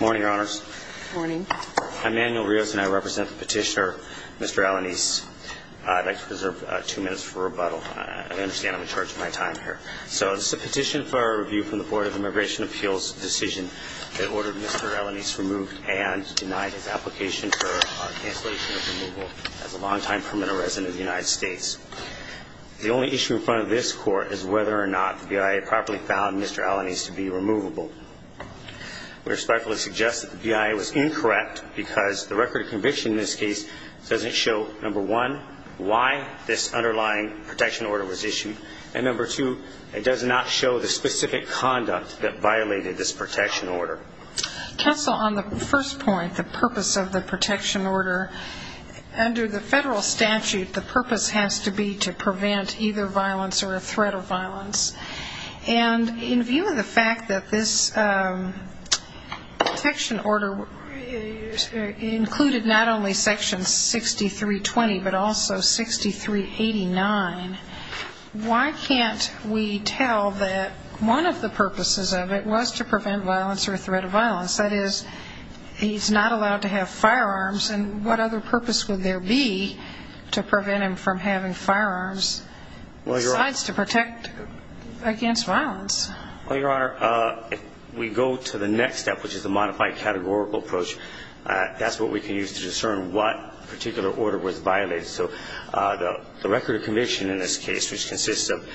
Morning, Your Honors. Morning. I'm Manuel Rios and I represent the petitioner, Mr. Alanis. I'd like to preserve two minutes for rebuttal. I understand I'm in charge of my time here. So this is a petition for review from the Board of Immigration Appeals decision that ordered Mr. Alanis removed and denied his application for cancellation of removal as a long-time permanent resident of the United States. The only issue in front of this Court is whether or not the BIA properly found Mr. Alanis to be removable. We respectfully suggest that the BIA was incorrect because the record of conviction in this case doesn't show, number one, why this underlying protection order was issued, and number two, it does not show the specific conduct that violated this protection order. Counsel, on the first point, the purpose of the protection order, under the federal statute, the purpose has to be to prevent either violence or a threat of violence. And in view of the fact that this protection order included not only Section 6320, but also 6389, why can't we tell that one of the purposes of it was to prevent violence or a threat of violence? That is, he's not allowed to have firearms, and what other purpose would there be to prevent him from having firearms besides to protect him? Well, Your Honor, if we go to the next step, which is the modified categorical approach, that's what we can use to discern what particular order was violated. So the record of conviction in this case, which consists of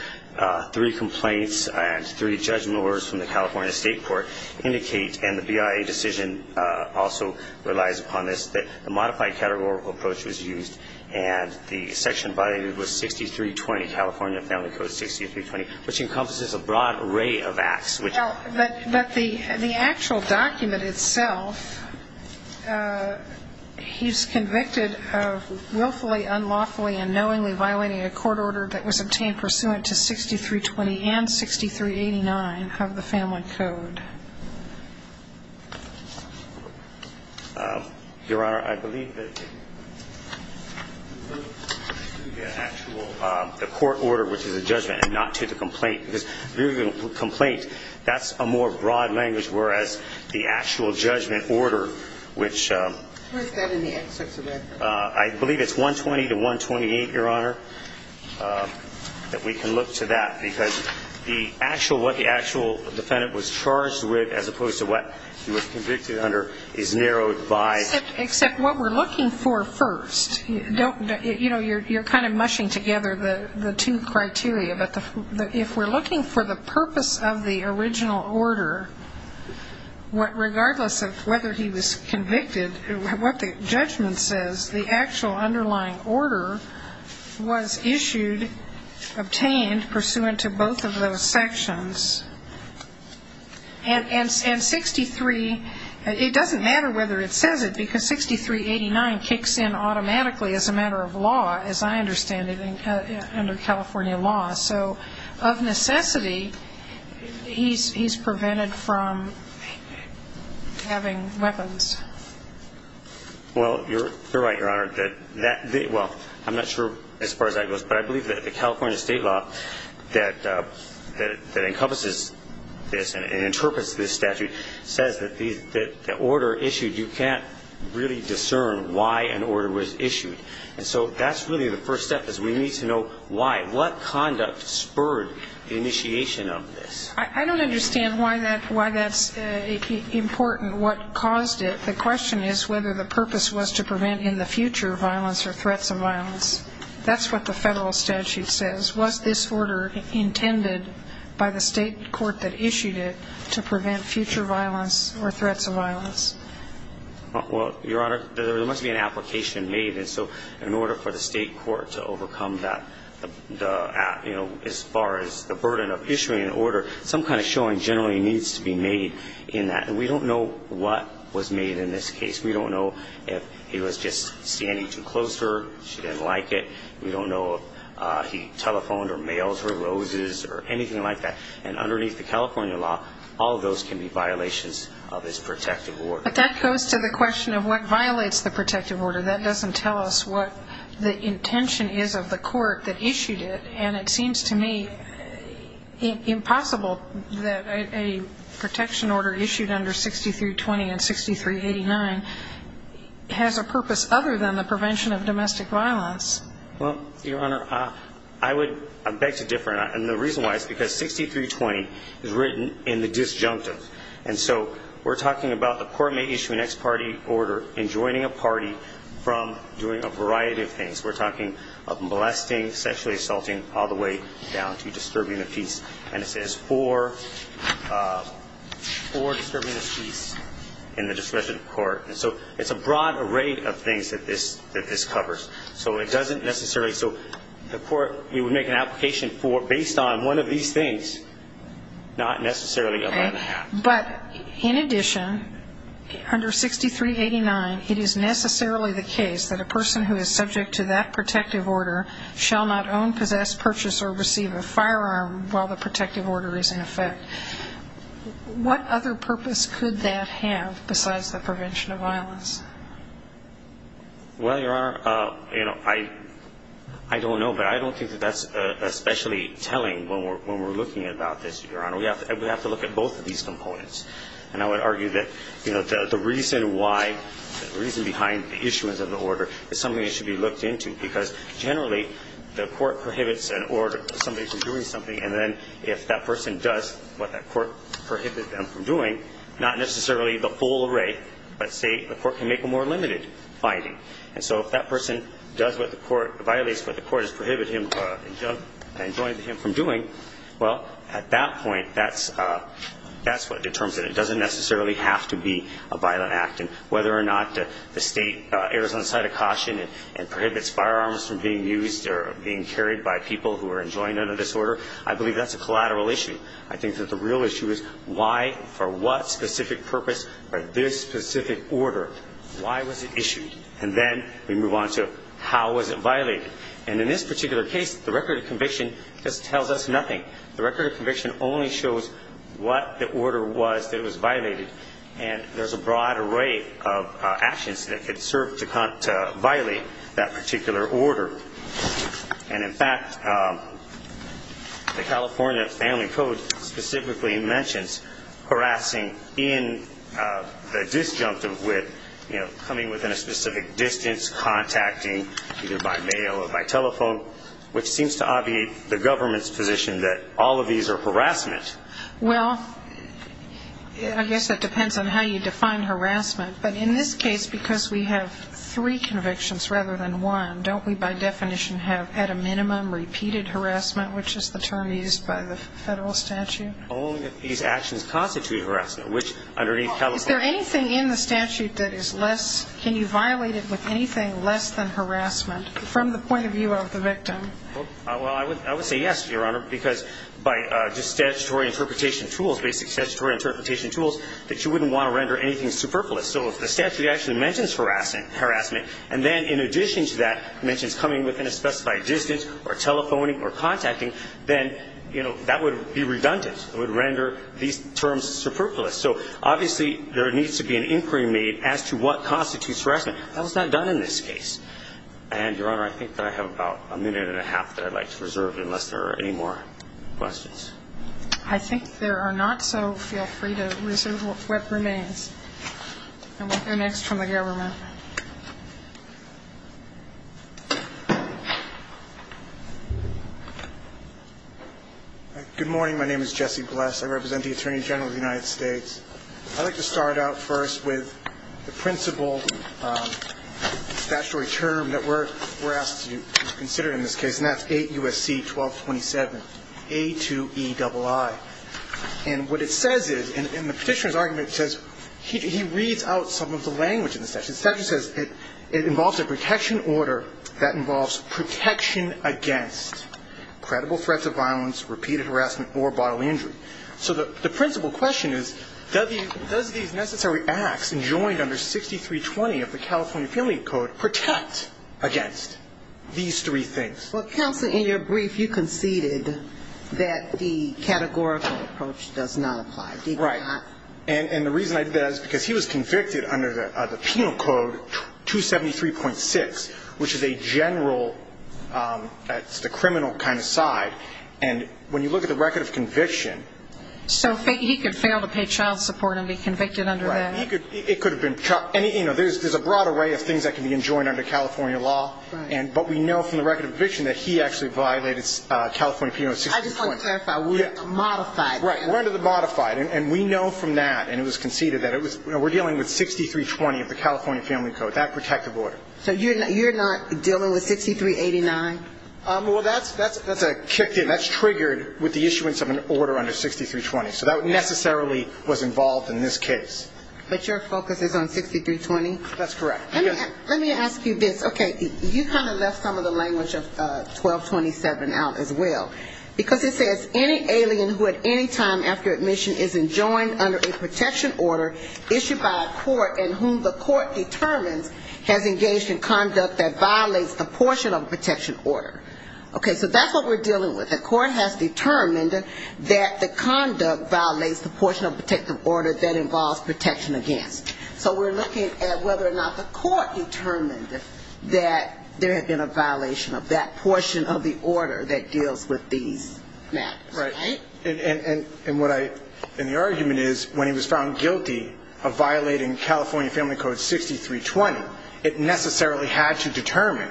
three complaints and three judgment orders from the California State Court, indicate, and the BIA decision also relies upon this, that the modified categorical approach was used, and the section violated was 6320, California Family Code 6320, which includes the following. Well, but the actual document itself, he's convicted of willfully, unlawfully, and knowingly violating a court order that was obtained pursuant to 6320 and 6389 of the Family Code. Your Honor, I believe that the actual, the court order, which is a judgment and not to the complaint, because if you're going to put complaint, that's a more broad language, whereas the actual judgment order, which... Where's that in the excerpts of that? I believe it's 120 to 128, Your Honor, that we can look to that, because the actual, what the actual defendant was charged with, as opposed to what he was convicted under, is narrowed by... Except what we're looking for first. You know, you're kind of mushing together the two criteria, but if we're looking for the purpose of the original order, regardless of whether he was convicted, what the judgment says, that's what we're looking for. Because the actual underlying order was issued, obtained pursuant to both of those sections. And 63, it doesn't matter whether it says it, because 6389 kicks in automatically as a matter of law, as I understand it, under California law. So of necessity, he's prevented from having weapons. Well, you're right, Your Honor, that that, well, I'm not sure as far as that goes, but I believe that the California state law that encompasses this and interprets this statute says that the order issued, you can't really discern why an order was issued. And so that's really the first step, is we need to know why, what conduct spurred the initiation of this. I don't understand why that's important, what caused it. The question is whether the purpose was to prevent in the future violence or threats of violence. That's what the federal statute says. Was this order intended by the state court that issued it to prevent future violence or threats of violence? Well, Your Honor, there must be an application made. And so in order for the state court to overcome that, you know, as far as the burden of issuing an order, some kind of showing generally needs to be made in that. And we don't know what was made in this case. We don't know if he was just standing too close to her, she didn't like it. We don't know if he telephoned or mailed her roses or anything like that. And underneath the California law, all of those can be violations of his protective order. But that goes to the question of what violates the protective order. That doesn't tell us what the intention is of the court that issued it. And it seems to me impossible that a protection order issued under 6320 and 6389 has a purpose other than the prevention of domestic violence. Well, Your Honor, I would beg to differ. And the reason why is because 6320 is written in the disjunctive. And so we're talking about the court may issue an ex parte order in joining a party from doing a variety of things. We're talking of molesting, sexually assaulting, all the way down to disturbing the peace. And it says for disturbing the peace in the discretion of court. And so it's a broad array of things that this covers. So it doesn't necessarily so the court, we would make an application for based on one of these things, not necessarily allow that. But in addition, under 6389, it is necessarily the case that a person who is subject to that protective order shall not own, possess, purchase, or receive a firearm while the protective order is in effect. What other purpose could that have besides the prevention of violence? Well, Your Honor, you know, I don't know. But I don't think that that's especially telling when we're looking about this, Your Honor. We have to look at both of these components. And I would argue that, you know, the reason why, the reason behind the issuance of the order is something that should be looked into. Because generally, the court prohibits an order, somebody from doing something. And then if that person does what that court prohibited them from doing, not necessarily the full array, but say the court can make a more limited finding. And so if that person does what the court, violates what the court has prohibited him, enjoined him from doing, well, at that point, that's what determines it. It doesn't necessarily have to be a violent act. You know, we can't prevent firearms from being used or being carried by people who are enjoined under this order. I believe that's a collateral issue. I think that the real issue is why, for what specific purpose, or this specific order, why was it issued? And then we move on to how was it violated? And in this particular case, the record of conviction just tells us nothing. The record of conviction only shows what the order was that was violated. And there's a broad array of actions that could serve to violate that particular order. And in fact, the California Family Code specifically mentions harassing in the disjunctive with, you know, coming within a specific distance, contacting either by mail or by telephone, which seems to obviate the government's position that all of these are harassment. Well, I guess it depends on how you define harassment. But in this case, because we have three convictions rather than one, don't we, by definition, have, at a minimum, repeated harassment, which is the term used by the federal statute? Only if these actions constitute harassment, which underneath California. Is there anything in the statute that is less, can you violate it with anything less than harassment, from the point of view of the victim? Well, I would say yes, Your Honor, because by just statutory interpretation tools, basic statutory interpretation tools, that you wouldn't want to render anything superfluous. So if the statute actually mentions harassment, and then in addition to that mentions coming within a specified distance or telephoning or contacting, then, you know, that would be redundant. It would render these terms superfluous. So obviously, there needs to be an inquiry made as to what constitutes harassment. That was not done in this case. And, Your Honor, I think that I have about a minute and a half that I'd like to reserve unless there are any more questions. I think there are not. So feel free to reserve what remains and what's next from the government. Good morning. My name is Jesse Bless. I represent the Attorney General of the United States. I'd like to start out first with the principal statutory term that we're asked to consider in this case, and that's 8 U.S.C. 1227, A2EII. And what it says is, and the Petitioner's argument says, he reads out some of the language in the statute. The statute says it involves a protection order that involves protection against credible threats of violence, repeated harassment, or bodily injury. So the principal question is, does these necessary acts enjoined under 6320 of the California Penalty Code protect against these three things? Well, Counsel, in your brief, you conceded that the categorical approach does not apply. Did you not? Right. And the reason I did that is because he was convicted under the Penal Code 273.6, which is a general, that's the criminal kind of side. And when you look at the record of conviction... So he could fail to pay child support and be convicted under that? Right. He could. It could have been. And, you know, there's a broad array of things that can be enjoined under California law, but we know from the record of conviction that he actually violated California Penalty Code 6320. I just want to clarify. We're under the modified. Right. We're under the modified. And we know from that, and it was conceded, that we're dealing with 6320 of the California Family Code, that protective order. So you're not dealing with 6389? Well, that's a kick in. That's triggered with the issuance of an order under 6320. So that necessarily was involved in this case. But your focus is on 6320? That's correct. Let me ask you this. Okay. You kind of left some of the language of 1227 out as well. Because it says any alien who at any time after admission is enjoined under a protection order issued by a court and whom the court determines has engaged in conduct that violates a portion of the protection order. Okay. So that's what we're dealing with. The court has determined that the conduct violates the portion of the protective order that involves protection against. So we're looking at whether or not the court determined that there had been a violation of that portion of the order that deals with the protection order. Right. And the argument is when he was found guilty of violating California Family Code 6320, it necessarily had to determine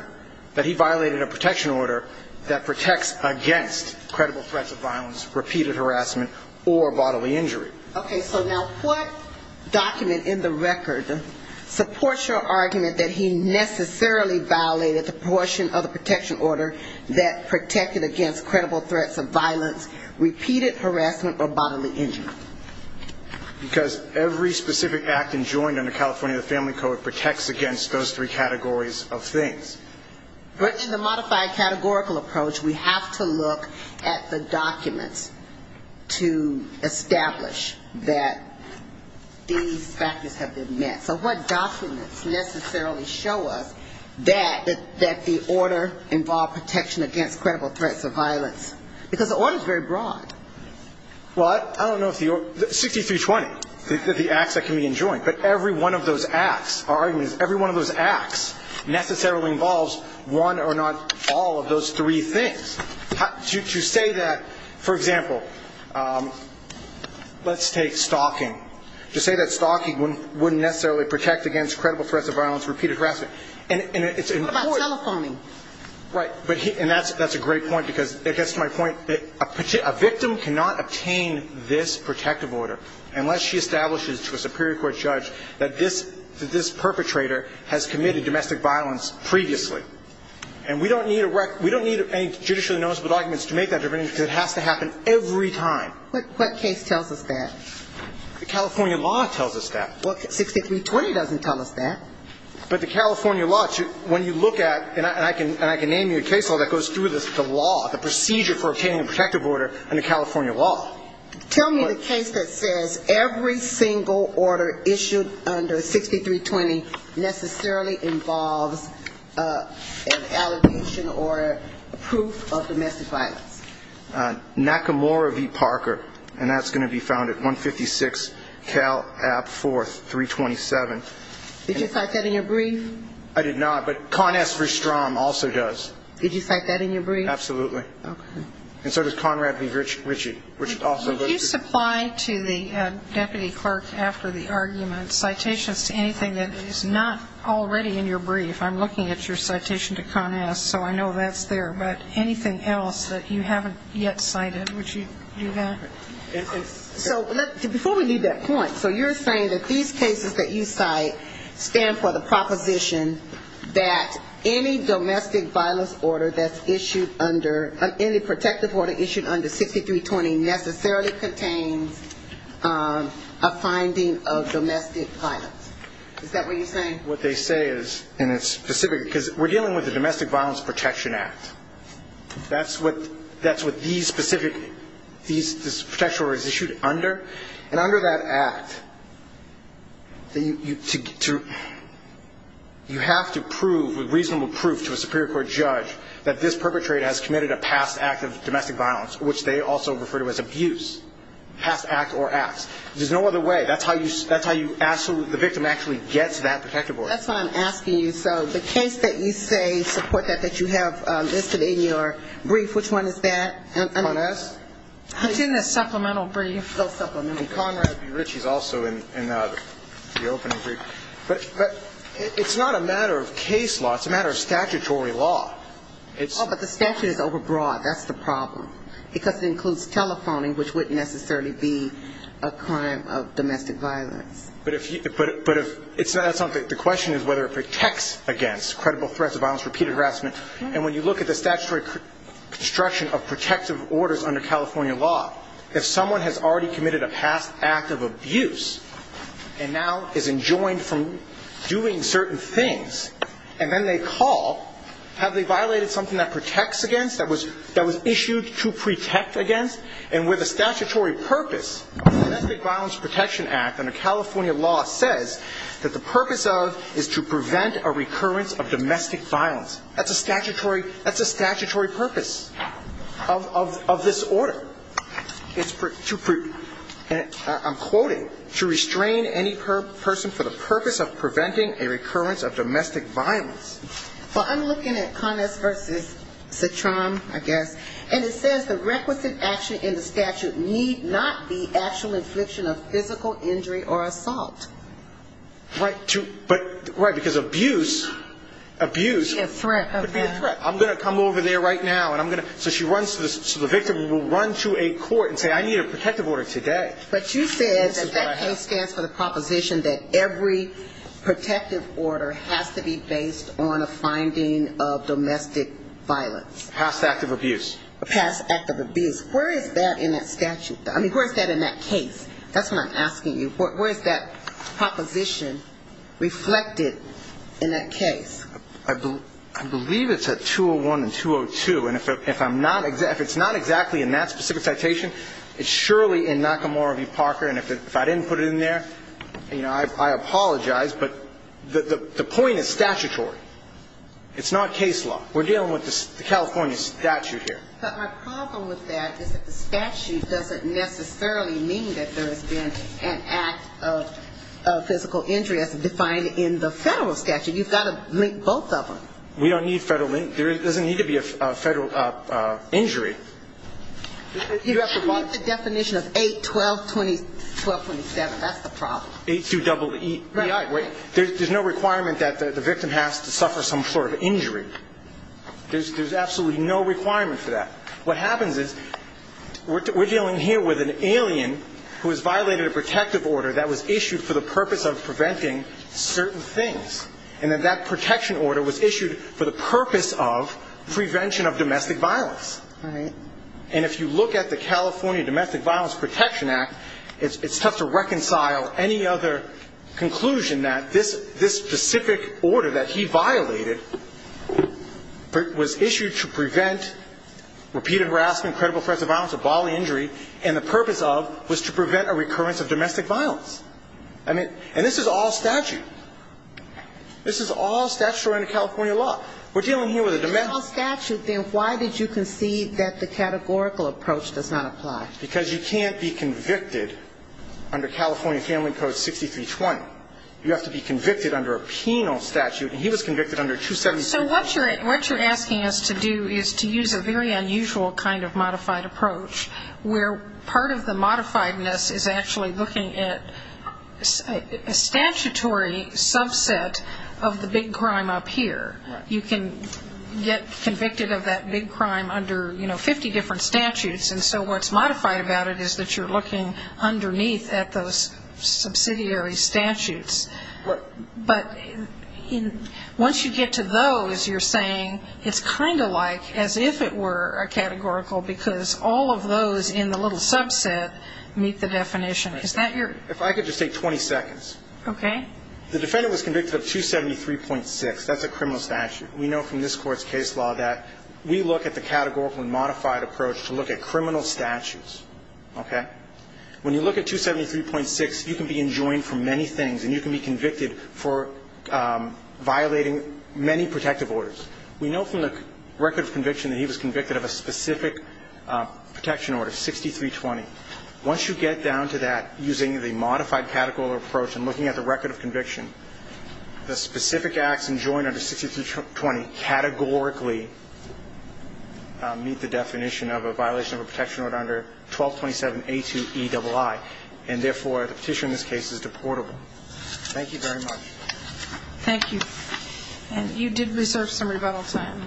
that he violated a protection order that protects against credible threats of violence, repeated harassment, or bodily injury. Okay. So now what document in the record supports your argument that he necessarily violated the portion of the protection order that protected against credible threats of violence, repeated harassment, or bodily injury? Because every specific act enjoined under California Family Code protects against those three categories of things. But in the modified categorical approach, we have to look at the documents to establish that these factors have been met. So what documents necessarily show us that the order involved protection against credible threats of violence, repeated harassment, or bodily injury? Because the order is very broad. Well, I don't know if the order – 6320, the acts that can be enjoined. But every one of those acts, our argument is every one of those acts necessarily involves one or not all of those three things. To say that, for example, let's take stalking. To say that stalking wouldn't necessarily protect against credible threats of violence, repeated harassment. What about telephoning? Right. And that's a great point, because it gets to my point that a victim cannot obtain this protective order unless she establishes to a superior court judge that this perpetrator has committed domestic violence previously. And we don't need any judicially noticeable documents to make that argument, because it has to happen every time. What case tells us that? The California law tells us that. Well, 6320 doesn't tell us that. But the California law, when you look at – and I can name you a case law that goes through the law, the procedure for obtaining a protective order under California law. Tell me the case that says every single order issued under 6320 necessarily involves an allegation or proof of domestic violence. Nakamura v. Parker, and that's going to be found at 156 Cal Ab 4, 327. Did you cite that in your brief? I did not, but Conn S. Verstrom also does. Did you cite that in your brief? Absolutely. And so does Conrad v. Ritchie, which also goes to – Could you supply to the deputy clerk after the argument citations to anything that is not already in your brief? I'm looking at your citation to Conn S., so I know that's there. But anything else that you haven't yet cited, would you do that? So before we leave that point, so you're saying that these cases that you cite stand for the proposition that any domestic violence order that's issued under 6320 necessarily contains a finding of domestic violence. Is that what you're saying? What they say is, and it's specific, because we're dealing with the Domestic Violence Protection Act. That's what these specific – this protection order is issued under. And under that act, you have to prove with reasonable proof to a superior court judge that this perpetrator has committed a pathological crime. That is, a past act of domestic violence, which they also refer to as abuse. Past act or acts. There's no other way. That's how you – that's how you – the victim actually gets that protective order. That's what I'm asking you. So the case that you say, support that, that you have listed in your brief, which one is that? Conn S.? It's in the supplemental brief. And Conrad B. Ritchie is also in the opening brief. But it's not a matter of case law. It's a matter of statutory law. Oh, but the statute is overbroad. That's the problem. Because it includes telephoning, which wouldn't necessarily be a crime of domestic violence. But if – it's not something – the question is whether it protects against credible threats of violence, repeated harassment. And when you look at the statutory construction of protective orders under California law, if someone has already committed a past act of abuse and now is enjoined from doing certain things, and then they call, have they violated something that protects against, that was issued to protect against? And where the statutory purpose of the Domestic Violence Protection Act under California law says that the purpose of is to prevent a recurrence of domestic violence. That's a statutory purpose of this order. And I'm quoting, to restrain any person for the purpose of preventing a recurrence of domestic violence. Well, I'm looking at Conn S. versus Citram, I guess. And it says the requisite action in the statute need not be actual infliction of physical injury or assault. Right, but – right, because abuse – abuse – Could be a threat. Could be a threat. I'm going to come over there right now, so the victim will run to a court and say, I need a protective order today. But you said that that case stands for the proposition that every protective order has to be based on a finding of domestic violence. Past act of abuse. Where is that in that statute? I mean, where is that in that case? That's what I'm asking you. Where is that proposition reflected in that case? I believe it's at 201 and 202. And if I'm not – if it's not exactly in that specific citation, it's surely in Nakamura v. Parker. And if I didn't put it in there, you know, I apologize. But the point is statutory. It's not case law. We're dealing with the California statute here. But my problem with that is that the statute doesn't necessarily mean that there has been an act of physical injury as defined in the federal statute. You've got to link both of them. We don't need federal – there doesn't need to be a federal injury. You have to keep the definition of 8, 12, 20, 12, 27. That's the problem. 8-2-E-E-I. There's no requirement that the victim has to suffer some sort of injury. There's absolutely no requirement for that. What happens is we're dealing here with an alien who has violated a protective order that was issued for the purpose of preventing certain things. And then that protection order was issued for the purpose of prevention of domestic violence. And if you look at the California Domestic Violence Protection Act, it's tough to reconcile any other conclusion that this specific order that he violated was issued to prevent repeated harassment, credible threats of violence, or bodily injury, and the purpose of was to prevent a recurrence of domestic violence. And this is all statute. This is all statutory under California law. We're dealing here with a domestic – If it's all statute, then why did you concede that the categorical approach does not apply? Because you can't be convicted under California Family Code 6320. You have to be convicted under a penal statute, and he was convicted under 273. So what you're asking us to do is to use a very unusual kind of modified approach, where part of the modifiedness is actually looking at a statutory subset of the big crime up here. You can get convicted of that big crime under, you know, 50 different statutes, and so what's modified about it is that you're looking underneath at those subsidiary statutes. But once you get to those, you're saying it's kind of like as if it were a categorical, because all of those in the little subset meet the definition. Is that your – If I could just take 20 seconds. Okay. The defendant was convicted of 273.6. That's a criminal statute. We know from this Court's case law that we look at the categorical and modified approach to look at criminal statutes. Okay? When you look at 273.6, you can be enjoined for many things, and you can be convicted for violating many protective orders. We know from the record of conviction that he was convicted of a specific protection order, 6320. Once you get down to that, using the modified categorical approach and looking at the record of conviction, the specific acts enjoined under 6320 categorically meet the definition of a violation of a protection order under 1227A2EII, and therefore the petition in this case is deportable. Thank you very much. Thank you. And you did reserve some rebuttal time.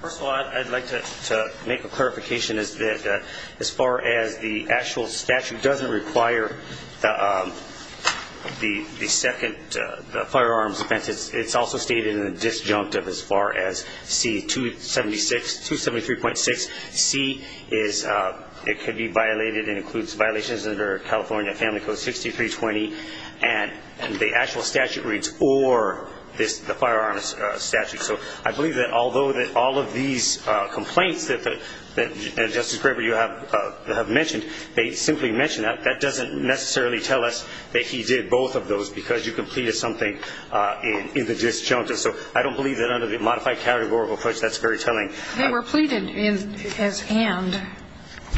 First of all, I'd like to make a clarification as far as the actual statute doesn't require the second firearms offense. It's also stated in the disjunct of as far as C273.6. C is it could be violated and includes violations under California Family Code 6320, and the actual statute reads or the firearms statute. So I believe that although all of these complaints that Justice Graber, you have mentioned, they simply mention that, that doesn't necessarily tell us that he did both of those because you completed something in the disjunct. So I don't believe that under the modified categorical approach, that's very telling. They were pleaded as and.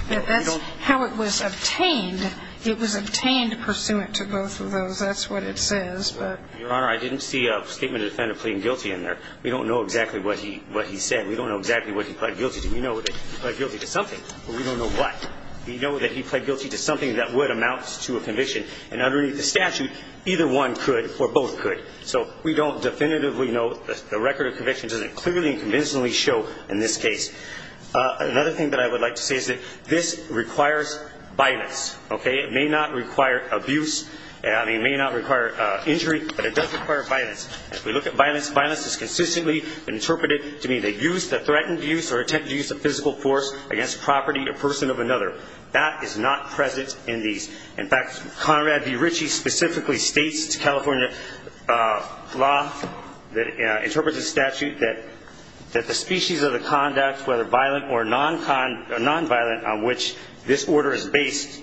That's how it was obtained. It was obtained pursuant to both of those. That's what it says. Your Honor, I didn't see a statement of defendant pleading guilty in there. We don't know exactly what he said. We don't know exactly what he pled guilty to. We know that he pled guilty to something, but we don't know what. We know that he pled guilty to something that would amount to a conviction, and underneath the statute, either one could or both could. So we don't definitively know. The record of conviction doesn't clearly and convincingly show in this case. Another thing that I would like to say is that this requires violence, okay? It may not require abuse. I mean, it may not require injury, but it does require violence. If we look at violence, violence is consistently interpreted to mean the use, the threatened use or attempted use of physical force against property or person of another. That is not present in these. In fact, Conrad V. Ritchie specifically states California law that interprets the statute that the species of the conduct, whether violent or non-violent, on which this order is based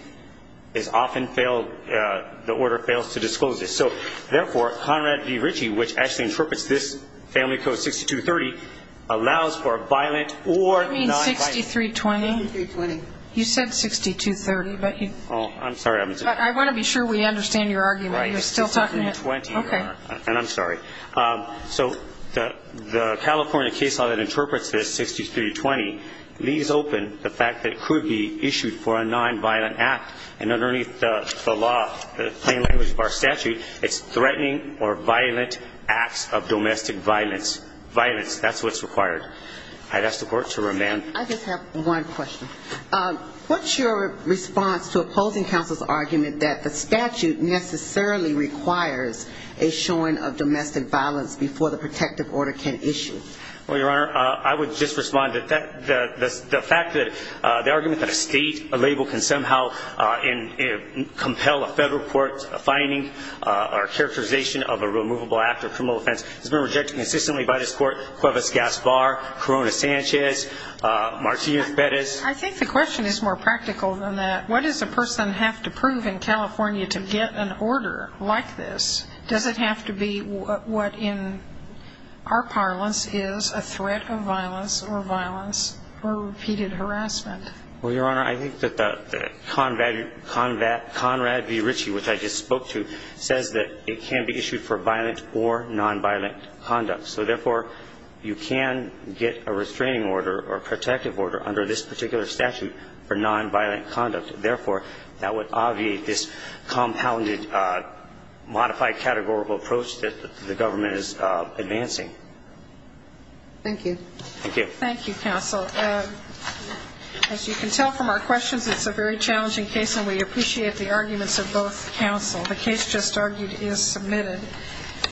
is often failed. The order fails to disclose this. So, therefore, Conrad V. Ritchie, which actually interprets this Family Code 6230, allows for violent or non-violent. You mean 6320? 6320. You said 6230, but you... Oh, I'm sorry. I want to be sure we understand your argument. You're still talking... Okay. And I'm sorry. So the California case law that interprets this, 6320, leaves open the fact that it could be issued for a non-violent act. And underneath the law, the plain language of our statute, it's threatening or violent acts of domestic violence. Violence, that's what's required. I'd ask the Court to remand. I just have one question. What's your response to opposing counsel's argument that the statute necessarily requires a showing of domestic violence before the protective order can issue? Well, Your Honor, I would just respond to the fact that the argument that a state, a label can somehow compel a federal court finding or characterization of a removable act of criminal offense has been rejected consistently by this Court, Cuevas-Gaspar, Corona-Sanchez, Martinez-Perez. I think the question is more practical than that. What does a person have to prove in California to get an order like this? Does it have to be what in our parlance is a threat of violence or violence or repeated harassment? Well, Your Honor, I think that the Conrad v. Ritchie, which I just spoke to, says that it can be issued for violent or non-violent conduct. So, therefore, you can get a restraining order or protective order under this particular statute for non-violent conduct. Therefore, that would obviate this compounded modified categorical approach that the government is advancing. Thank you. Thank you. Thank you, counsel. As you can tell from our questions, it's a very challenging case, and we appreciate the arguments of both counsel. The case just argued is submitted.